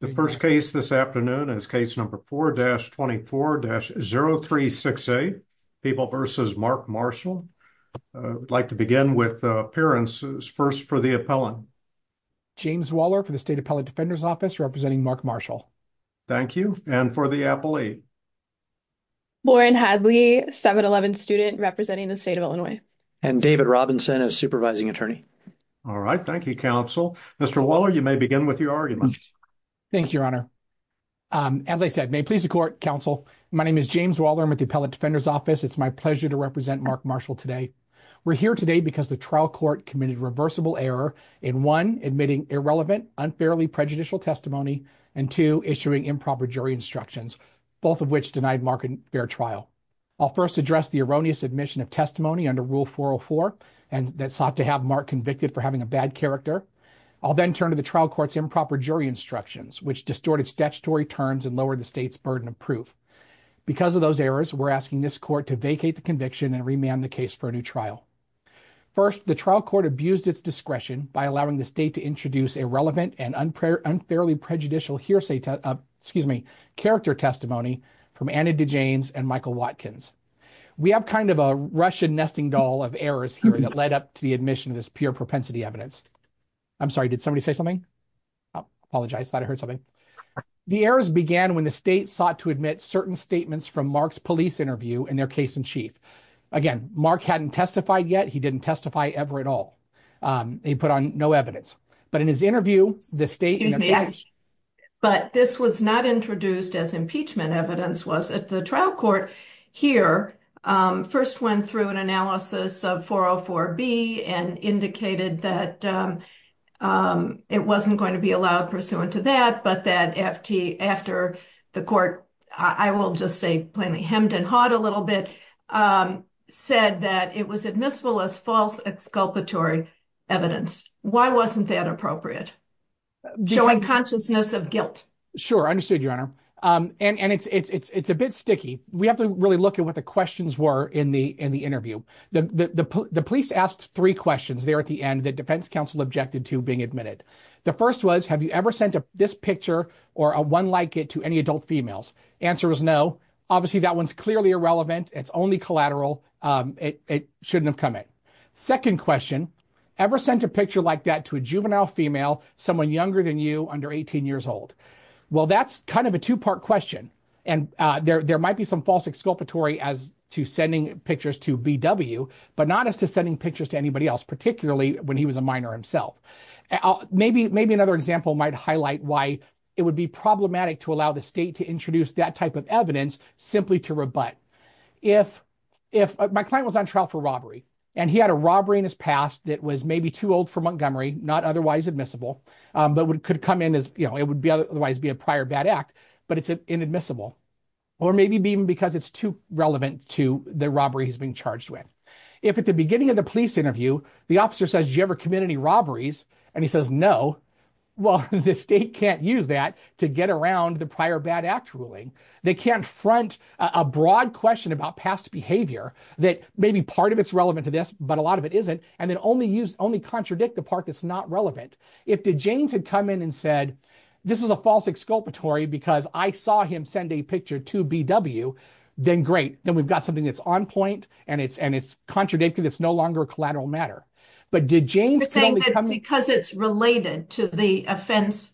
The first case this afternoon is case number 4-24-0368, People v. Mark Marshall. I'd like to begin with appearances. First for the appellant. James Waller for the State Appellate Defender's Office, representing Mark Marshall. Thank you. And for the appellee? Lauren Hadley, 7-11 student, representing the state of Illinois. And David Robinson as supervising attorney. All right. Thank you, counsel. Mr. Waller, you may begin with your argument. Thank you, Your Honor. As I said, may it please the court, counsel, my name is James Waller. I'm with the Appellate Defender's Office. It's my pleasure to represent Mark Marshall today. We're here today because the trial court committed reversible error in one, admitting irrelevant, unfairly prejudicial testimony, and two, issuing improper jury instructions, both of which denied Mark a fair trial. I'll first address the erroneous admission of testimony under Rule 404 that sought to have Mark convicted for having a bad character. I'll then turn to the trial court's improper jury instructions, which distorted statutory terms and lowered the state's burden of proof. Because of those errors, we're asking this court to vacate the conviction and remand the case for a new trial. First, the trial court abused its discretion by allowing the state to introduce irrelevant and unfairly prejudicial character testimony from Anna DeJanes and Michael Watkins. We have kind of a Russian nesting doll of errors that led up to the admission of this pure propensity evidence. I'm sorry, did somebody say something? I apologize. I thought I heard something. The errors began when the state sought to admit certain statements from Mark's police interview in their case in chief. Again, Mark hadn't testified yet. He didn't testify ever at all. He put on no evidence. But in his interview, the state... Excuse me, but this was not introduced as impeachment evidence, was it? The trial court here first went through an analysis of 404B and indicated that it wasn't going to be allowed pursuant to that, but that FT, after the court, I will just say plainly hemmed and hawed a little bit, said that it was admissible as false exculpatory evidence. Why wasn't that appropriate? Showing consciousness of guilt. Sure, understood, Your Honor. And it's a bit sticky. We have to really look at what the questions were in the interview. The police asked three questions there at the end that defense counsel objected to being admitted. The first was, have you ever sent this picture or a one like it to any adult females? Answer was no. Obviously, that one's clearly irrelevant. It's only collateral. It shouldn't have come in. Second question, ever sent a picture like that to a juvenile female, someone younger than you, under 18 years old? Well, that's kind of a two-part question. And there might be some false exculpatory as to sending pictures to BW, but not as to sending pictures to anybody else, particularly when he was a minor himself. Maybe another example might highlight why it would be problematic to allow the state to introduce that type of evidence simply to rebut. My client was on trial for robbery, and he had a robbery in his past that was maybe too old for Montgomery, not otherwise admissible, but it could come in as, it would otherwise be a prior bad act, but it's inadmissible. Or maybe even because it's too relevant to the robbery he's being charged with. If at the beginning of the police interview, the officer says, did you ever commit any robberies? And he says, no. Well, the state can't use that to get around the prior bad act ruling. They can't front a broad question about past behavior that maybe part of it's relevant to this, but a lot of it isn't. And then only use, only contradict the part that's not relevant. If DeJanes had come in and said, this is a false exculpatory because I saw him send a picture to BW, then great. Then we've got something that's on point and it's, and it's contradicted. It's no longer a collateral matter, but DeJanes- You're saying that because it's related to the offense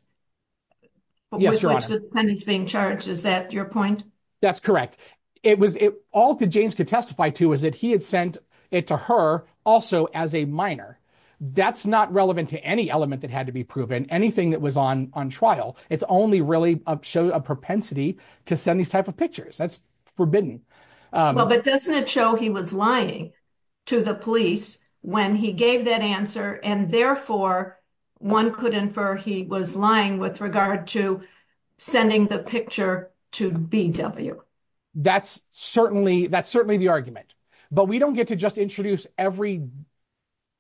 with which the defendant's being charged, is that your point? That's correct. It was, all DeJanes could testify to is that he had sent it to her also as a minor. That's not relevant to any element that had to be proven, anything that was on trial. It's only really showed a propensity to send these type of pictures. That's forbidden. Well, but doesn't it show he was lying to the police when he gave that answer and therefore one could infer he was lying with regard to sending the picture to BW? That's certainly, that's certainly the argument, but we don't get to just introduce every,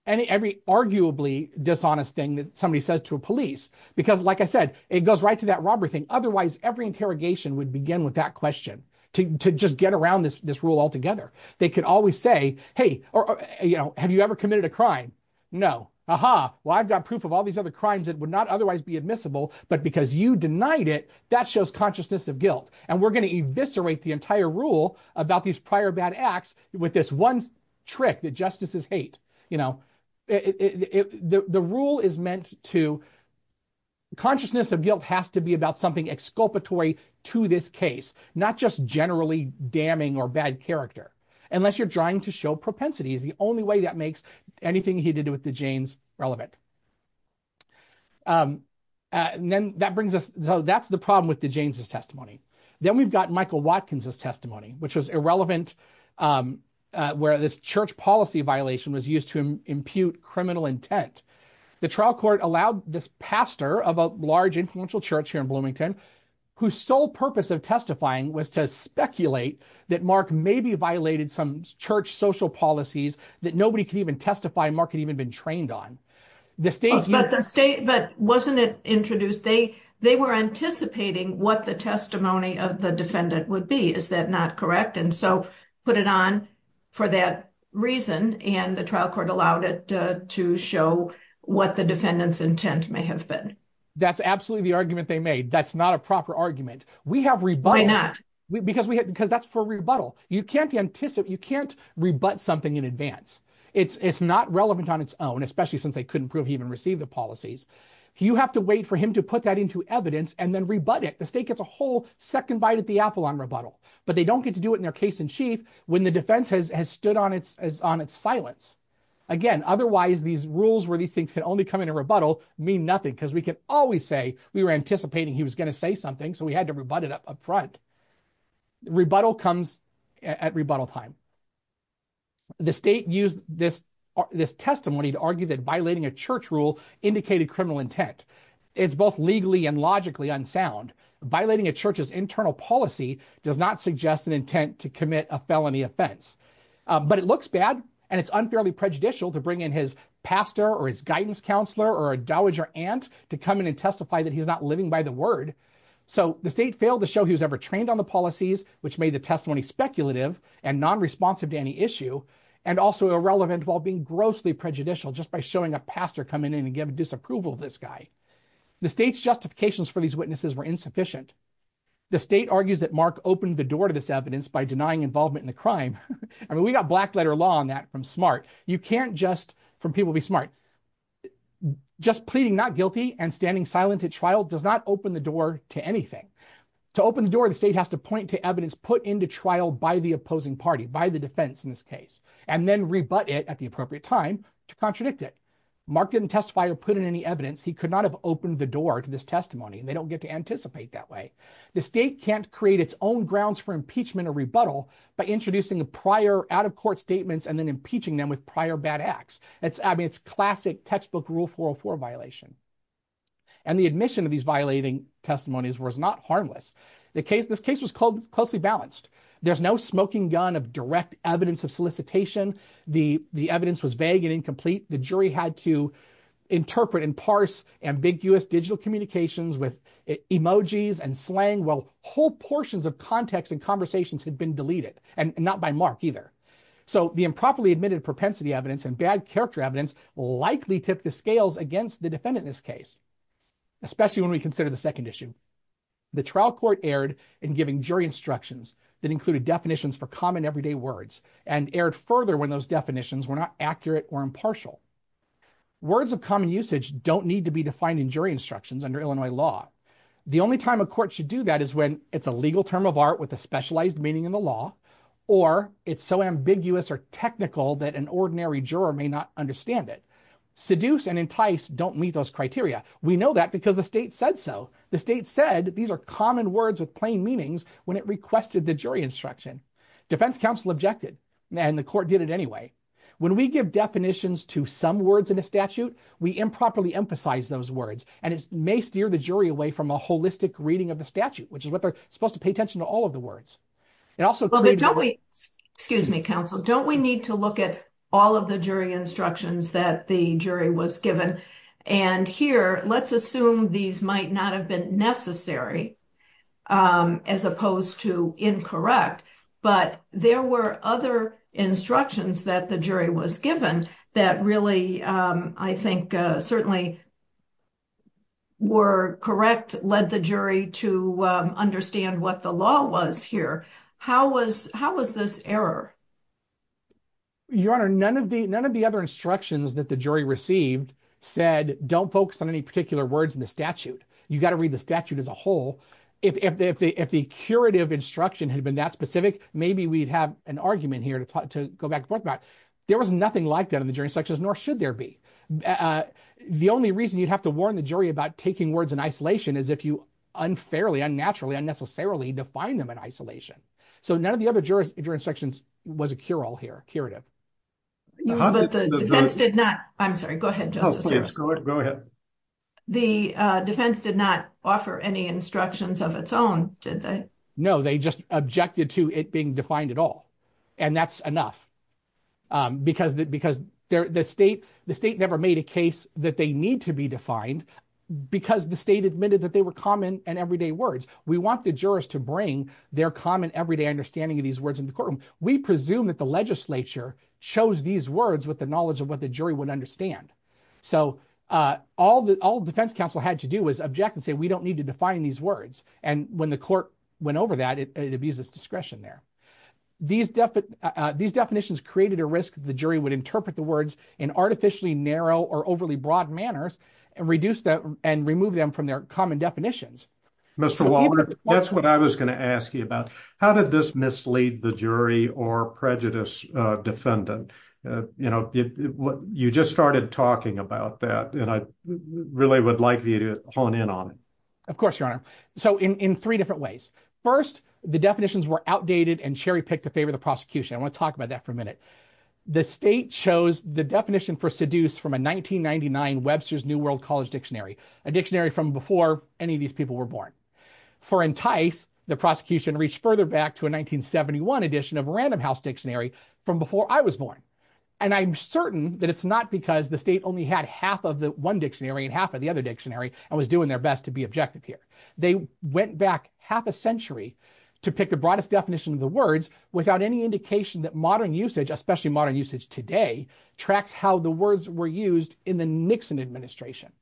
any, every arguably dishonest thing that somebody says to a police, because like I said, it goes right to that robbery thing. Otherwise, every interrogation would begin with that question to, to just get around this, this rule altogether. They could always say, Hey, or, you know, have you ever committed a crime? No. Aha. Well, I've got proof of all admissible, but because you denied it, that shows consciousness of guilt. And we're going to eviscerate the entire rule about these prior bad acts with this one trick that justices hate. You know, the rule is meant to, consciousness of guilt has to be about something exculpatory to this case, not just generally damning or bad character. Unless you're trying to show propensity is the only way that makes anything he did with DeJanes relevant. And then that brings us, so that's the problem with DeJanes' testimony. Then we've got Michael Watkins' testimony, which was irrelevant, where this church policy violation was used to impute criminal intent. The trial court allowed this pastor of a large influential church here in Bloomington, whose sole purpose of testifying was to speculate that Mark maybe violated some church social policies that nobody could even testify Mark had even been trained on. The state- But wasn't it introduced, they were anticipating what the testimony of the defendant would be. Is that not correct? And so put it on for that reason and the trial court allowed it to show what the defendant's intent may have been. That's absolutely the argument they made. That's not a proper argument. We have rebuttal- Why not? Because that's for rebuttal. You can't rebut something in advance. It's not relevant on its own, especially since they couldn't prove he even received the policies. You have to wait for him to put that into evidence and then rebut it. The state gets a whole second bite at the apple on rebuttal, but they don't get to do it in their case in chief when the defense has stood on its silence. Again, otherwise these rules where these things can only come into rebuttal mean nothing because we can always say we were anticipating he was going to say something, so we had to rebut it up front. Rebuttal comes at rebuttal time. The state used this testimony to argue that violating a church rule indicated criminal intent. It's both legally and logically unsound. Violating a church's internal policy does not suggest an intent to commit a felony offense, but it looks bad and it's unfairly prejudicial to bring in his pastor or his guidance counselor or a dowager aunt to come in and testify that he's not living by the word. So the state failed to show he was ever trained on the policies which made the testimony speculative and non-responsive to any issue and also irrelevant while being grossly prejudicial just by showing a pastor coming in and giving disapproval of this guy. The state's justifications for these witnesses were insufficient. The state argues that Mark opened the door to this evidence by denying involvement in the crime. I mean, we got black letter law on that from SMART. You can't just from people be SMART. Just pleading not guilty and standing silent at trial does not open the door to anything. To open the door, the state has to point to evidence put into trial by the opposing party, by the defense in this case, and then rebut it at the appropriate time to contradict it. Mark didn't testify or put in any evidence. He could not have opened the door to this testimony and they don't get to anticipate that way. The state can't create its own grounds for impeachment or rebuttal by introducing the prior out-of-court statements and then impeaching them with prior bad acts. I mean, it's classic textbook Rule 404 violation. And the admission of these violating testimonies was not harmless. This case was closely balanced. There's no smoking gun of direct evidence of solicitation. The evidence was vague and incomplete. The jury had to interpret and parse ambiguous digital communications with emojis and slang while whole portions of context and conversations had been deleted, and not by Mark either. So the improperly admitted propensity evidence and bad scales against the defendant in this case, especially when we consider the second issue. The trial court erred in giving jury instructions that included definitions for common everyday words and erred further when those definitions were not accurate or impartial. Words of common usage don't need to be defined in jury instructions under Illinois law. The only time a court should do that is when it's a legal term of art with a specialized meaning in the law, or it's so ambiguous or technical that an ordinary juror may not understand it. Seduce and entice don't meet those criteria. We know that because the state said so. The state said these are common words with plain meanings when it requested the jury instruction. Defense counsel objected, and the court did it anyway. When we give definitions to some words in a statute, we improperly emphasize those words, and it may steer the jury away from a holistic reading of the statute, which is what they're supposed to pay attention to all of the words. Excuse me, counsel. Don't we need to look at all of the jury instructions that the jury was given? And here, let's assume these might not have been necessary as opposed to incorrect, but there were other instructions that the jury was given that really, I think, certainly were correct, led the jury to understand what the law was here. How was this error? Your Honor, none of the other instructions that the jury received said, don't focus on any particular words in the statute. You got to read the statute as a whole. If the curative instruction had been that specific, maybe we'd have an argument here to go back and forth about. There was nothing like that in the jury instructions, nor should there be. The only reason you'd have to warn the jury about taking words in isolation is if you unfairly, unnaturally, unnecessarily define them in isolation. So none of the other jury instructions was a cure-all here, curative. But the defense did not, I'm sorry, go ahead, Justice Lewis. Go ahead. The defense did not offer any instructions of its own, did they? No, they just objected to it being defined at all, and that's enough. Because the state never made a case that they need to be defined because the state admitted that they were common and everyday words. We want the jurors to bring their common, everyday understanding of these words in the courtroom. We presume that the legislature chose these words with the knowledge of what the jury would understand. So all the defense counsel had to do was object and say, we don't need to define these words. And when the court went over that, it abuses discretion there. These definitions created a risk that the jury would interpret the words in artificially narrow or overly broad manners and remove them from their common definitions. Mr. Waller, that's what I was going to ask you about. How did this mislead the jury or prejudice defendant? You just started talking about that, and I really would like you to hone in on it. Of course, Your Honor. So in three different ways. First, the definitions were outdated and cherry-picked to favor the prosecution. I want to talk about that for a minute. The state chose the definition for seduce from a 1999 Webster's New World College Dictionary, a dictionary from before any of these people were born. For entice, the prosecution reached further back to a 1971 edition of Random House Dictionary from before I was born. And I'm certain that it's not because the state only had half of the one dictionary and half of the other dictionary and was doing their best to be objective here. They went back half a century to pick the broadest definition of the words without any indication that modern usage, especially modern usage today, tracks how the words were used in the Nixon administration.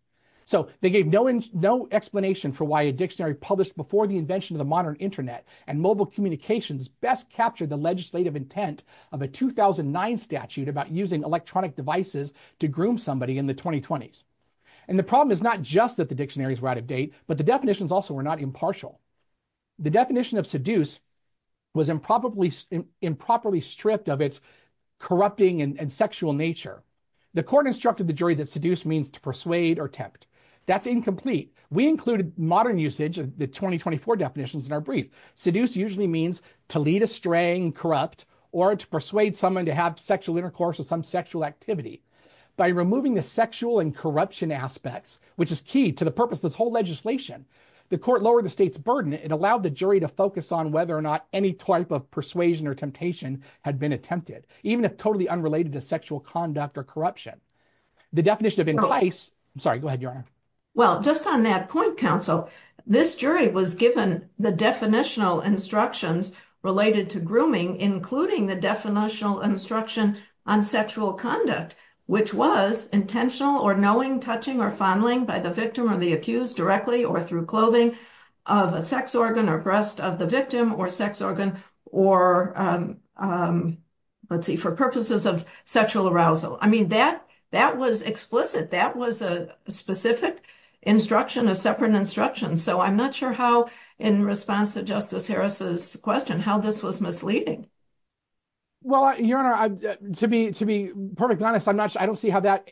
So they gave no explanation for why a dictionary published before the invention of the modern internet and mobile communications best captured the legislative intent of a 2009 statute about using electronic devices to groom somebody in the 2020s. And the problem is not just that the dictionaries were but the definitions also were not impartial. The definition of seduce was improperly stripped of its corrupting and sexual nature. The court instructed the jury that seduce means to persuade or tempt. That's incomplete. We included modern usage of the 2024 definitions in our brief. Seduce usually means to lead a straying, corrupt, or to persuade someone to have sexual intercourse or some sexual activity. By removing the sexual and corruption aspects, which is key to the purpose of this whole legislation, the court lowered the state's burden. It allowed the jury to focus on whether or not any type of persuasion or temptation had been attempted, even if totally unrelated to sexual conduct or corruption. The definition of entice... I'm sorry, go ahead, Your Honor. Well, just on that point, counsel, this jury was given the definitional instructions related to grooming, including the definitional instruction on sexual conduct, which was intentional or knowing touching or fondling by the victim or the accused directly or through clothing of a sex organ or breast of the victim or sex organ or, let's see, for purposes of sexual arousal. I mean, that was explicit. That was a specific instruction, a separate instruction. So I'm not sure how, in response to Justice Harris's question, how this was misleading. Well, Your Honor, to be perfectly honest, I don't see how that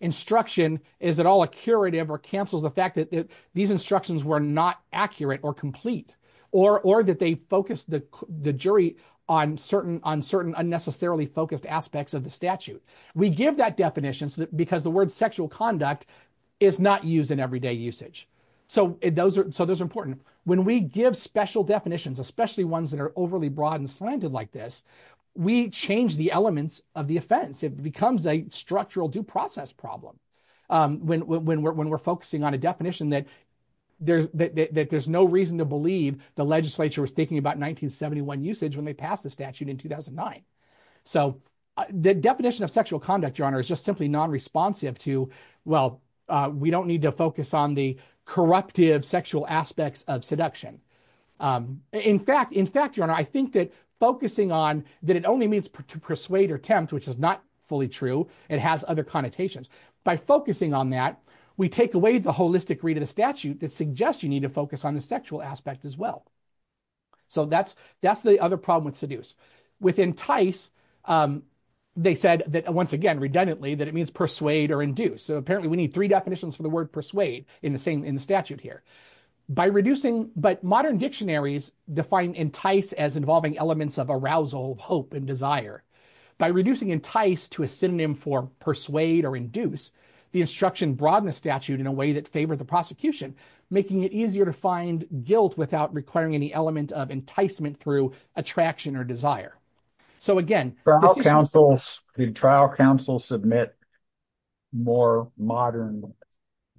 instruction is at all a curative or cancels the fact that these instructions were not accurate or complete or that they focused the jury on certain unnecessarily focused aspects of the statute. We give that definition because the word sexual conduct is not used in everyday usage. So those are important. When we give special definitions, especially ones that are overly broad and slanted, like this, we change the elements of the offense. It becomes a structural due process problem when we're focusing on a definition that there's no reason to believe the legislature was thinking about 1971 usage when they passed the statute in 2009. So the definition of sexual conduct, Your Honor, is just simply non-responsive to, well, we don't need to focus on the corruptive sexual aspects of seduction. In fact, Your Honor, I think that focusing on that it only means to persuade or tempt, which is not fully true, it has other connotations. By focusing on that, we take away the holistic read of the statute that suggests you need to focus on the sexual aspect as well. So that's the other problem with seduce. Within TICE, they said that, once again, redundantly, that it means persuade or induce. So apparently we need three definitions for the word persuade in the statute here. But modern dictionaries define entice as involving elements of arousal, hope, and desire. By reducing entice to a synonym for persuade or induce, the instruction broadens the statute in a way that favored the prosecution, making it easier to find guilt without requiring any element of enticement through attraction or desire. So again, this is- The trial counsel submit more modern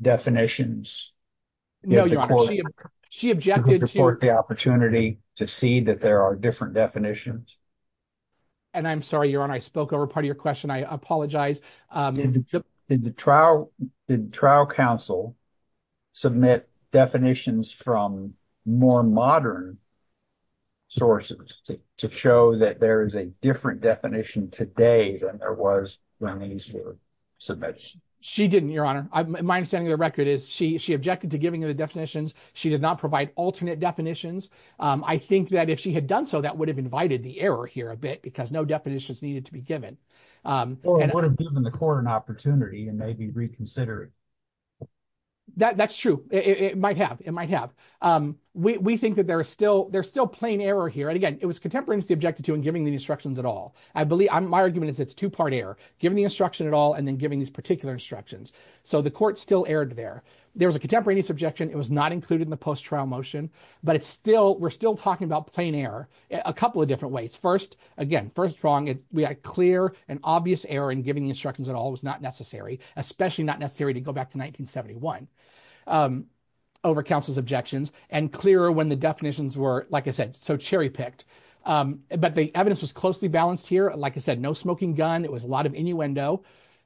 definitions. No, Your Honor, she objected to- To support the opportunity to see that there are different definitions. And I'm sorry, Your Honor, I spoke over part of your question. I apologize. The trial counsel submit definitions from more modern sources to show that there is a different definition today than there was when these were submitted. She didn't, Your Honor. My understanding of the record is she objected to giving you the definitions. She did not provide alternate definitions. I think that if she had done so, that would have invited the error here a bit because no definitions needed to be given. Or it would have given the court an opportunity and maybe reconsidered. That's true. It might have. It might have. We think that there's still plain error here. And again, it was contemporaneously objected to in giving the instructions at all. I believe- My argument is it's two-part error, giving the instruction at all and then giving these particular instructions. So the court still erred there. There was a contemporaneous objection. It was not included in the post-trial motion. But it's still- We're still talking about plain error a couple of different ways. First, again, first wrong. We had clear and obvious error in giving the instructions at all. It was not necessary, especially not necessarily to go back to 1971, over counsel's objections and clearer when the definitions were, like I said, so cherry-picked. But the evidence was closely balanced here. Like I said, no smoking gun. It was a lot of innuendo.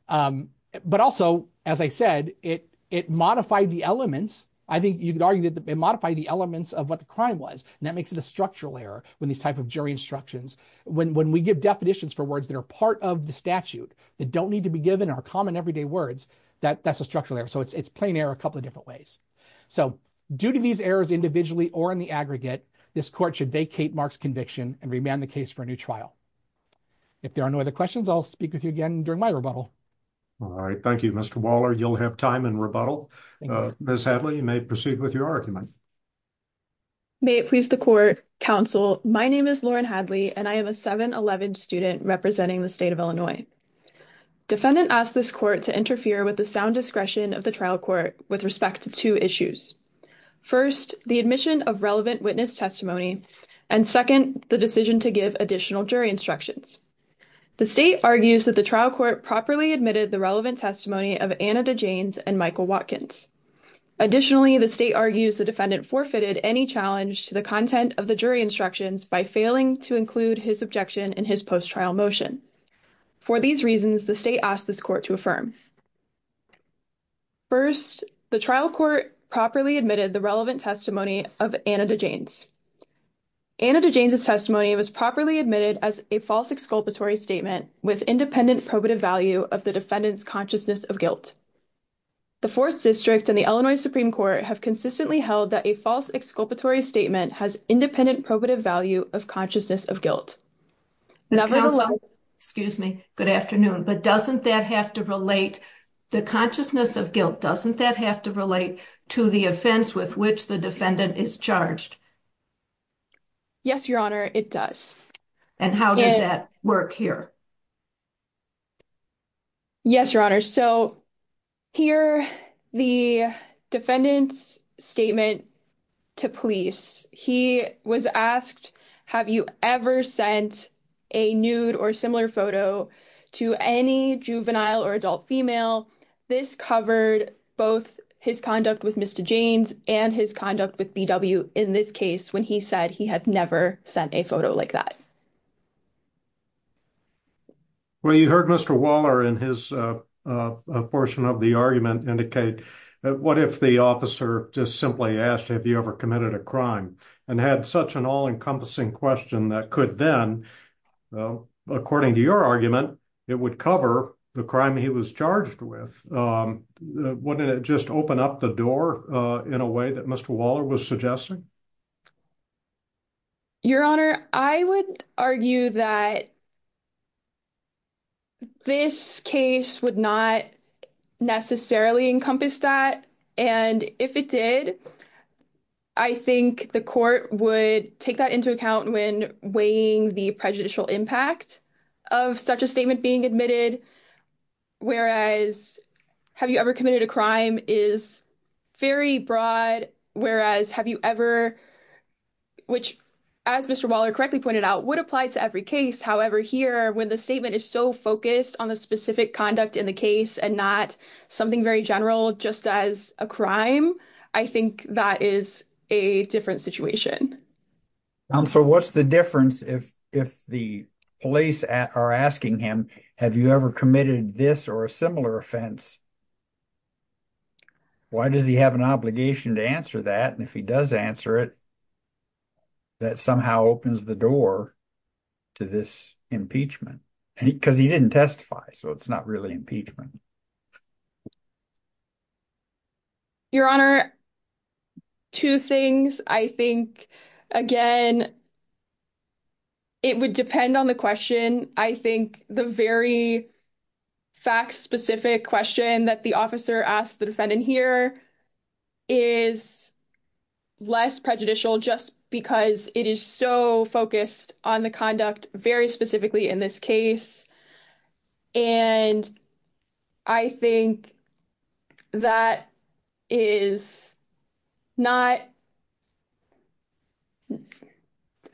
But also, as I said, it modified the elements. I think you could argue that it modified the elements of what the crime was. And that makes it a structural error when these type of jury instructions- When we give definitions for words that are part of the that don't need to be given are common everyday words, that's a structural error. So it's plain error a couple of different ways. So due to these errors individually or in the aggregate, this court should vacate Mark's conviction and remand the case for a new trial. If there are no other questions, I'll speak with you again during my rebuttal. All right. Thank you, Mr. Waller. You'll have time in rebuttal. Ms. Hadley, you may proceed with your argument. May it please the court, counsel. My name is and I am a 711 student representing the state of Illinois. Defendant asked this court to interfere with the sound discretion of the trial court with respect to two issues. First, the admission of relevant witness testimony. And second, the decision to give additional jury instructions. The state argues that the trial court properly admitted the relevant testimony of Anna DeJanes and Michael Watkins. Additionally, the state argues the defendant forfeited any challenge to the content of the jury instructions by failing to include his objection in his post-trial motion. For these reasons, the state asked this court to affirm. First, the trial court properly admitted the relevant testimony of Anna DeJanes. Anna DeJanes' testimony was properly admitted as a false exculpatory statement with independent probative value of the defendant's consciousness of guilt. The 4th District and the Illinois Supreme Court have consistently held that a false exculpatory statement has independent probative value of consciousness of guilt. Excuse me, good afternoon, but doesn't that have to relate, the consciousness of guilt, doesn't that have to relate to the offense with which the defendant is charged? Yes, your honor, it does. And how does that work here? Yes, your honor. So here, the defendant's statement to police, he was asked, have you ever sent a nude or similar photo to any juvenile or adult female? This covered both his conduct with Mr. DeJanes and his conduct with B.W. in this case when he said he had never sent a photo like that. Well, you heard Mr. Waller in his portion of the argument indicate, what if the officer just simply asked, have you ever committed a crime? And had such an all-encompassing question that could then, according to your argument, it would cover the crime he was charged with. Wouldn't it just open up the door in a way that Mr. Waller was suggesting? Your honor, I would argue that this case would not necessarily encompass that. And if it did, I think the court would take that into account when weighing the prejudicial impact of such a statement being admitted. Whereas, have you ever committed a crime is very broad. Whereas, have you ever which, as Mr. Waller correctly pointed out, would apply to every case. However, here, when the statement is so focused on the specific conduct in the case and not something very general just as a crime, I think that is a different situation. So what's the difference if the police are asking him, have you ever committed this or a similar offense? Why does he have an obligation to answer that? And if he does answer it, that somehow opens the door to this impeachment. Because he didn't testify, so it's not really impeachment. Your honor, two things. I think, again, it would depend on the question. I think the very fact-specific question that the officer asked the defendant here is less prejudicial just because it is so focused on the conduct very specifically in this case. And I think that is not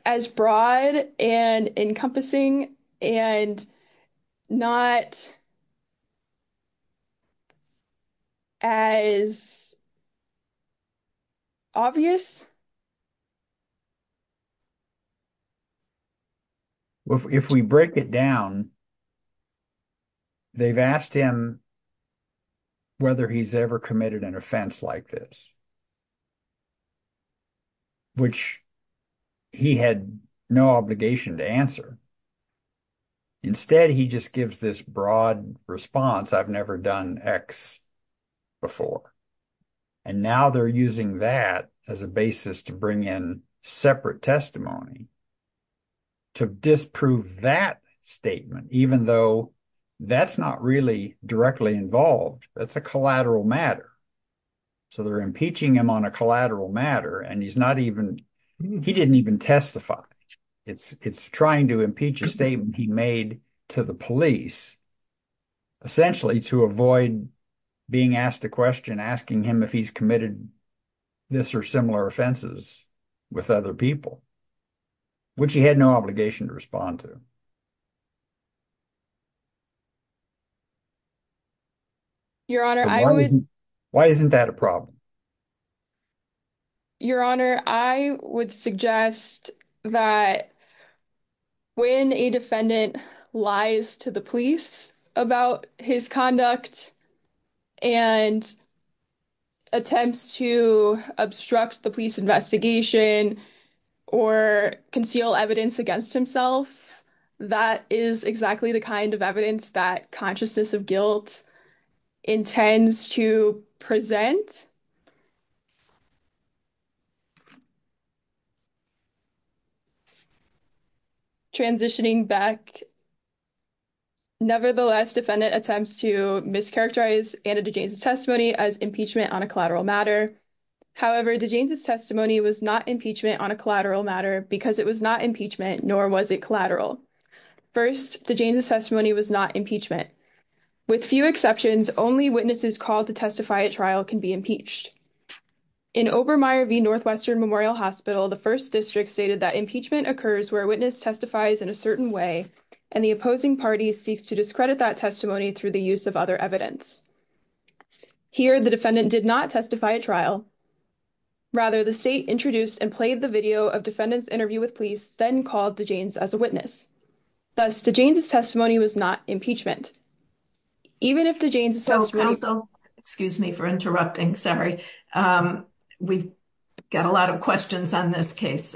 as broad and encompassing and not as obvious. If we break it down, they've asked him whether he's ever committed an offense like this. Which he had no obligation to answer. Instead, he just gives this broad response, I've never done X before. And now they're using that as a basis to bring in separate testimony to disprove that statement, even though that's not really directly involved. That's a collateral matter. So they're impeaching him on a collateral matter and he's not even, he didn't even testify. It's trying to impeach a statement he made to the police, essentially to avoid being asked a question, asking him if he's committed this or similar offenses with other people, which he had no obligation to respond to. Why isn't that a problem? Your Honor, I would suggest that when a defendant lies to the police about his conduct and attempts to obstruct the police investigation or conceal evidence against himself, that is exactly the kind of evidence that consciousness of guilt intends to present. Transitioning back, nevertheless, defendant attempts to mischaracterize Anna DeJanes' testimony as impeachment on a collateral matter. However, DeJanes' testimony was not impeachment on a collateral matter because it was not impeachment, nor was it collateral. First, DeJanes' testimony was not impeachment. With few exceptions, only witnesses called to testify at trial can be impeached. In Obermeyer v. Northwestern Memorial Hospital, the First District stated that impeachment occurs where a witness testifies in a certain way, and the opposing party seeks to discredit that testimony through the use of other evidence. Here, the defendant did not testify at trial. Rather, the state introduced and played the video of defendant's interview with police, then called DeJanes as a witness. Thus, DeJanes' testimony was not impeachment. Even if DeJanes' testimony- Counsel, excuse me for interrupting. Sorry. We've got a lot of questions on this case.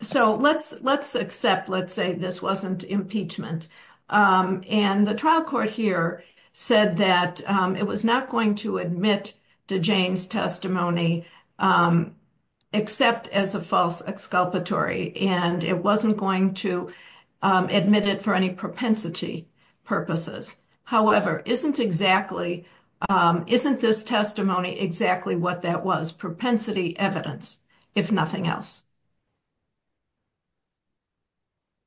Let's accept, let's say this wasn't impeachment. The trial court here said that it was not going to admit DeJanes' testimony, except as a false exculpatory, and it wasn't going to admit it for any propensity purposes. However, isn't this testimony exactly what that was, propensity evidence, if nothing else?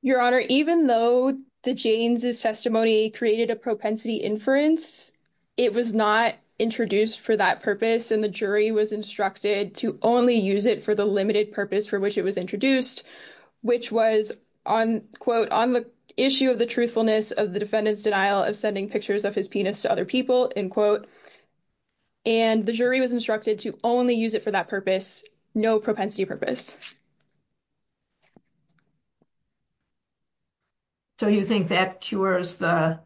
Your Honor, even though DeJanes' testimony created a propensity inference, it was not introduced for that purpose, and the jury was instructed to only use it for the limited purpose for which it was introduced, which was on, quote, on the issue of the truthfulness of the defendant's denial of sending pictures of his penis to other people, end quote. And the jury was instructed to only use it for that purpose, no propensity purpose. So you think that cures the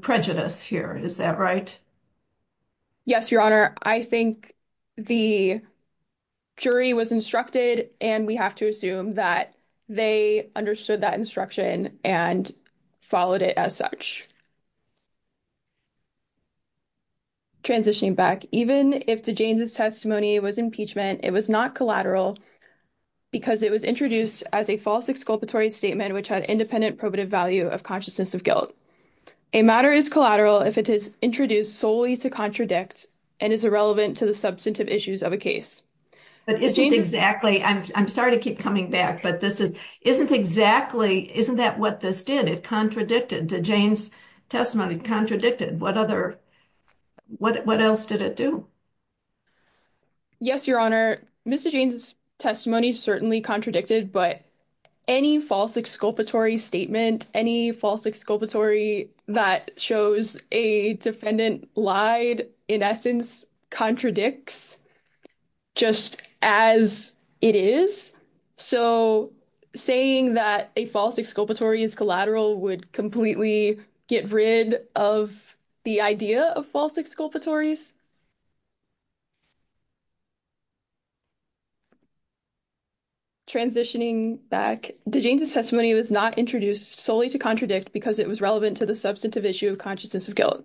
prejudice here, is that right? Yes, Your Honor. I think the jury was instructed, and we have to assume that they understood that and followed it as such. Transitioning back, even if DeJanes' testimony was impeachment, it was not collateral because it was introduced as a false exculpatory statement, which had independent probative value of consciousness of guilt. A matter is collateral if it is introduced solely to contradict and is irrelevant to the substantive issues of a case. But isn't exactly, I'm sorry to keep coming back, this is, isn't exactly, isn't that what this did? It contradicted DeJanes' testimony, contradicted. What other, what else did it do? Yes, Your Honor. Mr. DeJanes' testimony certainly contradicted, but any false exculpatory statement, any false exculpatory that shows a defendant lied, in essence, contradicts just as it is. So saying that a false exculpatory is collateral would completely get rid of the idea of false exculpatories. Transitioning back, DeJanes' testimony was not introduced solely to contradict because it was irrelevant to the substantive issue of consciousness of guilt.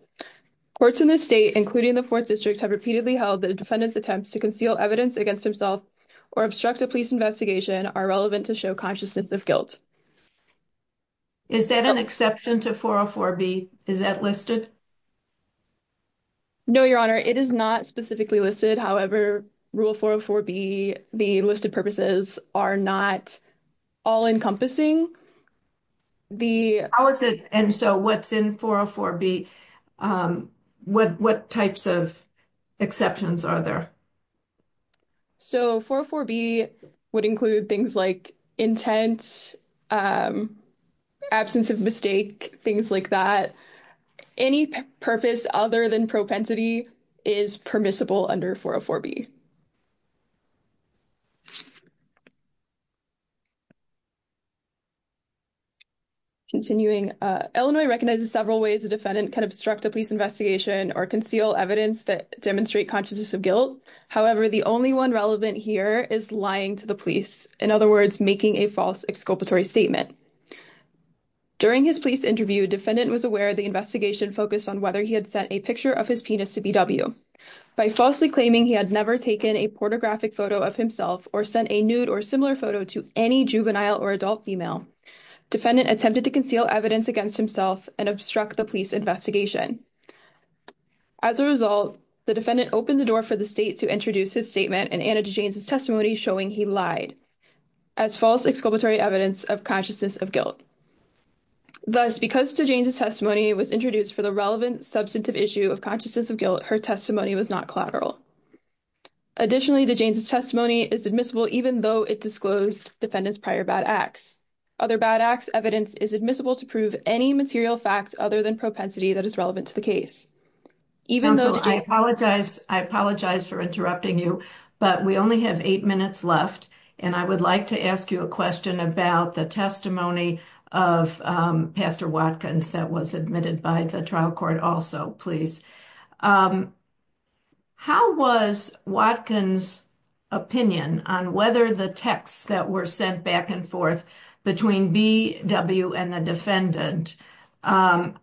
Courts in this state, including the Fourth District, have repeatedly held that a defendant's attempts to conceal evidence against himself or obstruct a police investigation are relevant to show consciousness of guilt. Is that an exception to 404B? Is that listed? No, Your Honor, it is not specifically listed. However, Rule 404B, the listed purposes are not all encompassing. And so what's in 404B? What types of exceptions are there? So 404B would include things like intent, absence of mistake, things like that. Any purpose other than propensity is permissible under 404B. Continuing, Illinois recognizes several ways a defendant can obstruct a police investigation or conceal evidence that demonstrate consciousness of guilt. However, the only one relevant here is lying to the police. In other words, making a false exculpatory statement. During his police interview, defendant was aware the investigation focused on whether he had sent a picture of his penis to BW by falsely claiming he had never taken a pornographic photo of himself or sent a nude or similar photo to any juvenile or adult female. Defendant attempted to conceal evidence against himself and obstruct the police investigation. As a result, the defendant opened the door for the state to introduce his statement and Anna DeJanes' testimony showing he lied as false exculpatory evidence of consciousness of guilt. Thus, because DeJanes' testimony was introduced for the relevant substantive issue of consciousness of guilt, her testimony was not collateral. Additionally, DeJanes' testimony is admissible even though it disclosed defendant's prior bad acts. Other bad acts evidence is admissible to prove any material facts other than propensity that is relevant to the case. Even though... I apologize. I apologize for interrupting you, but we only have eight minutes left and I would like to ask you a question about the testimony of Pastor Watkins that was admitted by the trial court also, please. How was Watkins' opinion on whether the texts that were sent back and forth between BW and the defendant, how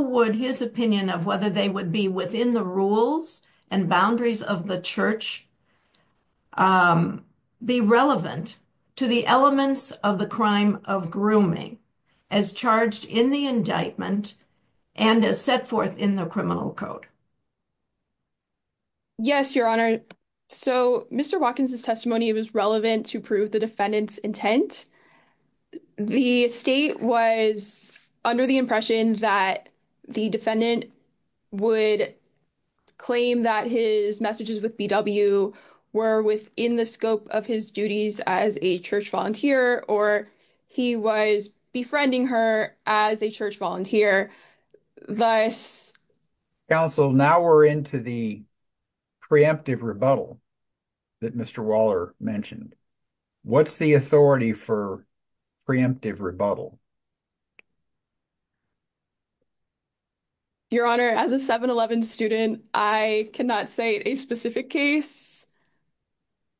would his opinion of whether they would be within the rules and boundaries of the church be relevant to the elements of the crime of grooming as charged in the indictment and as set forth in the criminal code? Yes, Your Honor. So, Mr. Watkins' testimony was relevant to prove the defendant's intent. The state was under the impression that the defendant would claim that his messages with BW were within the scope of his duties as a church volunteer or he was befriending her as a church volunteer, thus... Counsel, now we're into the preemptive rebuttal that Mr. Waller mentioned. What's the authority for preemptive rebuttal? Your Honor, as a 7-11 student, I cannot say a specific case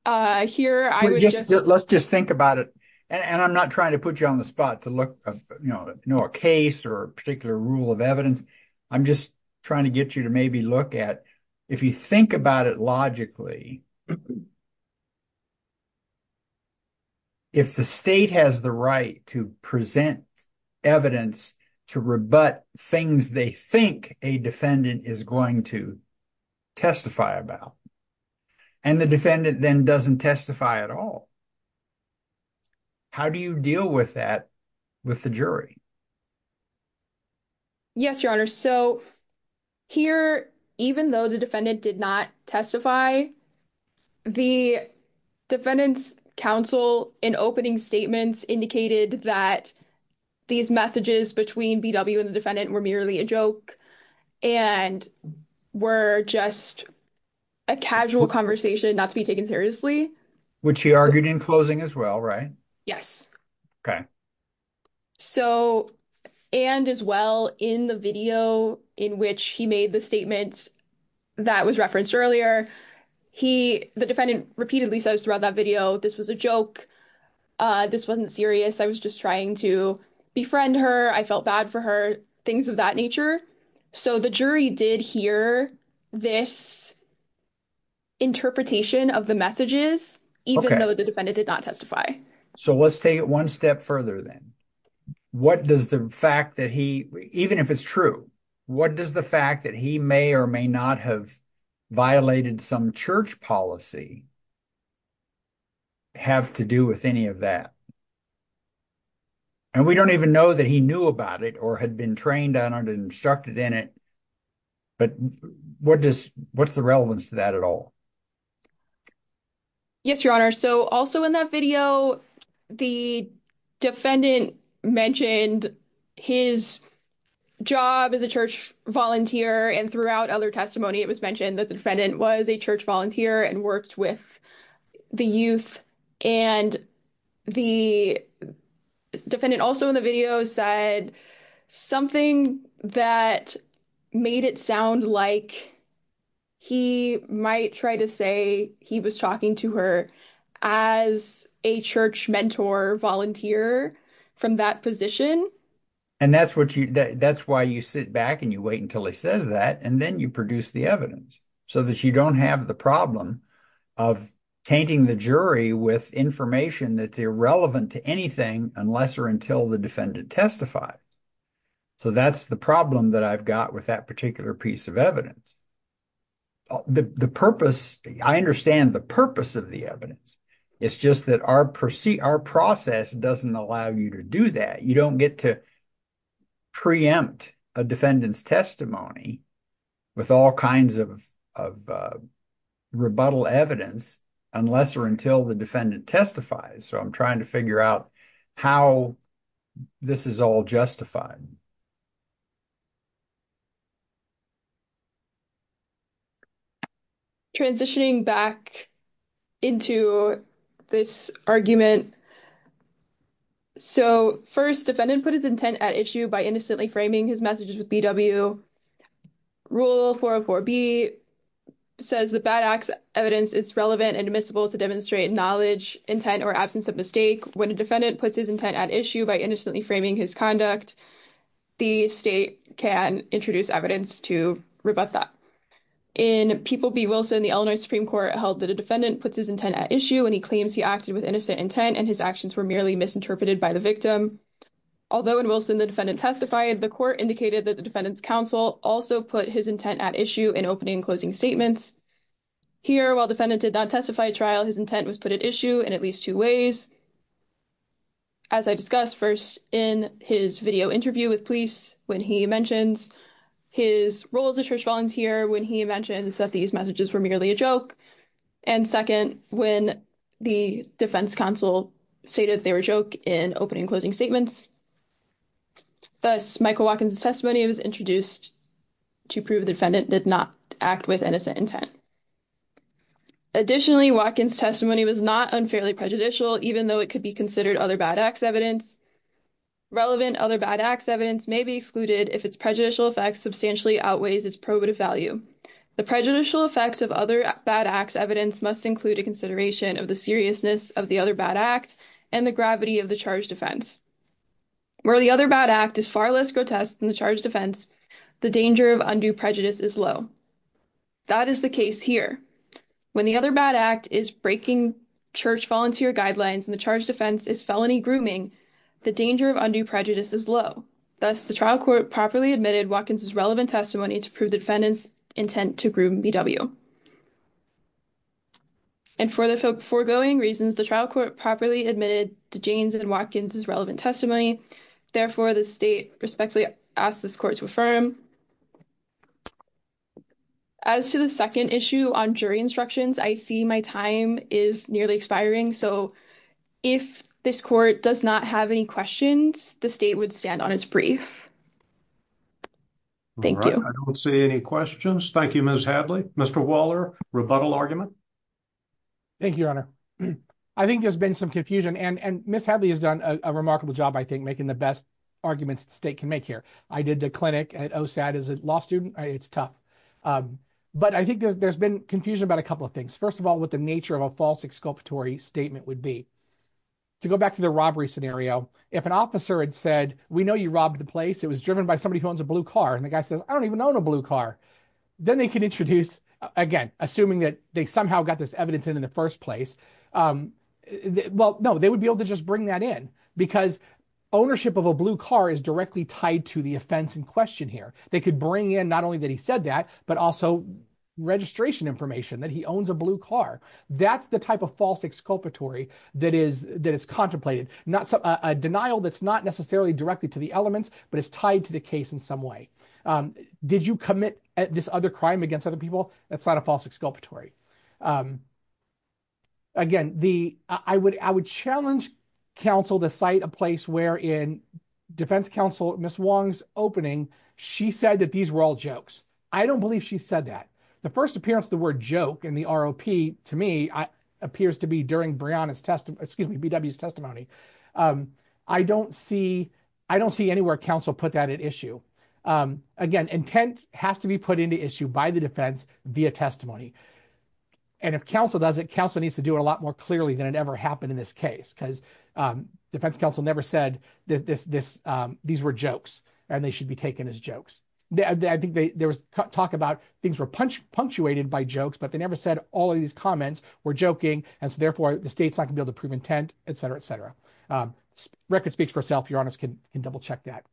here. I would just... Let's just think about it and I'm not trying to put you on the spot to look, you know, a case or a particular rule of evidence. I'm just trying to get you to maybe look at, if you think about it logically, if the state has the right to present evidence to rebut things they think a defendant is going to testify about and the defendant then doesn't testify at all, how do you deal with that with the jury? Yes, Your Honor. So, here, even though the defendant did not testify, the defendant's counsel in opening statements indicated that these messages between BW and the defendant were merely a joke and were just a casual conversation not to be taken seriously. Which he argued in closing as well, right? Yes. Okay. So, and as well in the video in which he made the statements that was referenced earlier, the defendant repeatedly says throughout that video, this was a joke, this wasn't serious, I was just trying to befriend her, I felt bad for her, things of that nature. So, the jury did hear this interpretation of the messages even though the defendant did not testify. So, let's take it one step further then. What does the fact that he, even if it's true, what does the fact that he may or may not have violated some church policy have to do with any of that? And we don't even know that he knew about it or had been trained on it, instructed in it, but what does, what's the relevance to that at all? Yes, Your Honor. So, also in that video, the defendant mentioned his job as a church volunteer and throughout other testimony it was mentioned that the defendant was a church volunteer and worked with the youth and the defendant also in the video said something that made it sound like he might try to say he was talking to her as a church mentor volunteer from that position. And that's why you sit back and you wait until he says that and then you produce the evidence, so that you don't have the problem of tainting the jury with information that's irrelevant to anything unless or until the defendant testifies. So, that's the problem that I've got with that piece of evidence. The purpose, I understand the purpose of the evidence, it's just that our process doesn't allow you to do that. You don't get to preempt a defendant's testimony with all kinds of rebuttal evidence unless or until the defendant testifies. So, I'm trying to figure out how this is all justified. Transitioning back into this argument. So, first defendant put his intent at issue by innocently framing his messages with BW. Rule 404B says the bad act's evidence is relevant and admissible to demonstrate knowledge, intent, or absence of mistake. When a defendant puts his intent at issue by innocently framing his conduct, the state can introduce evidence to rebut that. In People v. Wilson, the Illinois Supreme Court held that a defendant puts his intent at issue when he claims he acted with innocent intent and his actions were merely misinterpreted by the victim. Although in Wilson the defendant testified, the court indicated that the defendant's counsel also put his intent at issue in opening and closing statements. Here, while defendant did not testify at trial, his intent was put at issue in at least two ways. As I discussed first in his video interview with police when he mentions his role as a church volunteer, when he mentions that these messages were merely a joke, and second when the defense counsel stated they were a joke in opening and closing statements. Thus, Michael Watkins' testimony was introduced to prove the defendant did not act with innocent intent. Additionally, Watkins' testimony was not unfairly prejudicial, even though it could be considered other bad act's evidence. Relevant other bad act's evidence may be excluded if its prejudicial effects substantially outweighs its probative value. The prejudicial effects of other bad act's evidence must include a consideration of the seriousness of the other bad act and the gravity of the charged offense. Where the other bad act is far less grotesque than the charged offense, the danger of undue prejudice is low. That is the case here. When the other bad act is breaking church volunteer guidelines and the charged offense is felony grooming, the danger of undue prejudice is low. Thus, the trial court properly admitted Watkins' relevant testimony to prove the defendant's intent to groom BW. And for the foregoing reasons, the trial court properly admitted to James and Watkins' relevant testimony. Therefore, the state respectfully asks this court to affirm. As to the second issue on jury instructions, I see my time is nearly expiring. So if this court does not have any questions, the state would stand on its brief. Thank you. I don't see any questions. Thank you, Ms. Hadley. Mr. Waller, rebuttal argument? Thank you, Your Honor. I think there's been some confusion and Ms. Hadley has done a remarkable job, I think, making the best arguments the state can make here. I did the clinic at OSAD as a law student. It's tough. But I think there's been confusion about a couple of things. First of all, what the nature of a false exculpatory statement would be. To go back to the robbery scenario, if an officer had said, we know you robbed the place. It was driven by somebody who owns a blue car. And the guy says, I don't even own a blue car. Then they can introduce, again, assuming that they somehow got this evidence in the first place. Well, no, they would be able to just bring that in because ownership of a blue car is directly tied to the offense in question here. They could bring in not only that he said that, but also registration information that he owns a blue car. That's the type of false exculpatory that is contemplated. A denial that's not necessarily directed to the elements, but it's tied to the case in some way. Did you commit this other crime a place where in defense counsel, Ms. Wong's opening, she said that these were all jokes. I don't believe she said that. The first appearance of the word joke in the ROP to me appears to be during BW's testimony. I don't see anywhere counsel put that at issue. Again, intent has to be put into issue by the defense via testimony. And if counsel does it, counsel needs to do it a lot more clearly than it ever happened in this case because defense counsel never said these were jokes and they should be taken as jokes. I think there was talk about things were punctuated by jokes, but they never said all of these comments were joking. And so therefore, the state's not going to be able to prove intent, et cetera, et cetera. Record speaks for itself. Your honors can double check that.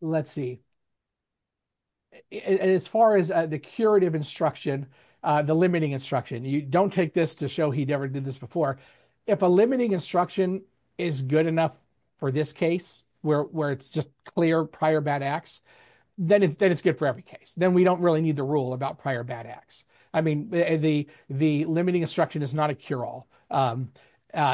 Let's see. As far as the curative instruction, the limiting instruction, you don't take this to show he never did this before. If a limiting instruction is good enough for this case where it's just clear prior bad acts, then it's good for every case. Then we don't really need the rule about prior bad acts. I mean, the limiting instruction is not a cure-all.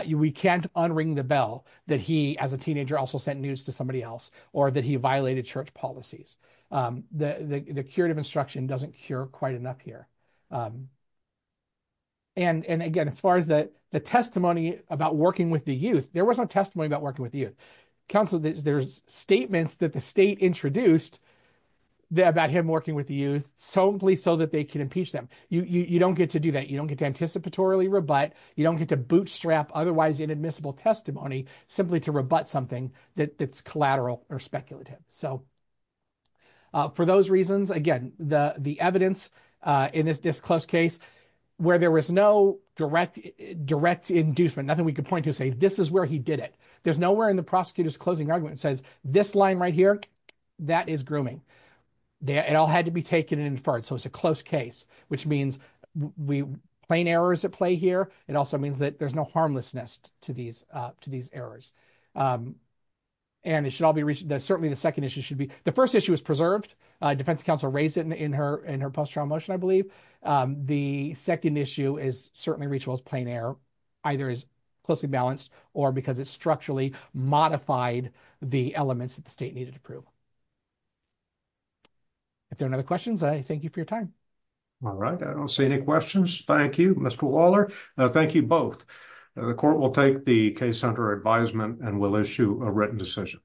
We can't unring the bell that he as a teenager also sent news to somebody else or that he violated church policies. The curative instruction doesn't cure quite enough here. And again, as far as the testimony about working with the youth, there was no testimony about working with the youth. Counsel, there's statements that the state introduced about him working with the youth simply so that they can impeach them. You don't get to do that. You don't get to participatorily rebut. You don't get to bootstrap otherwise inadmissible testimony simply to rebut something that's collateral or speculative. So for those reasons, again, the evidence in this close case where there was no direct inducement, nothing we could point to to say this is where he did it. There's nowhere in the prosecutor's closing argument that says this line right here, that is grooming. It all had to be taken and inferred. So it's a close case, which means plain errors at play here. It also means that there's no harmlessness to these errors. And it should all be reached. Certainly, the second issue should be, the first issue is preserved. Defense counsel raised it in her post-trial motion, I believe. The second issue is certainly reachable as plain error, either as closely balanced or because it structurally modified the elements that the state needed to prove. If there are no other questions, I thank you for your time. All right. I don't see any questions. Thank you, Mr. Waller. Thank you both. The court will take the case under advisement and will issue a written decision.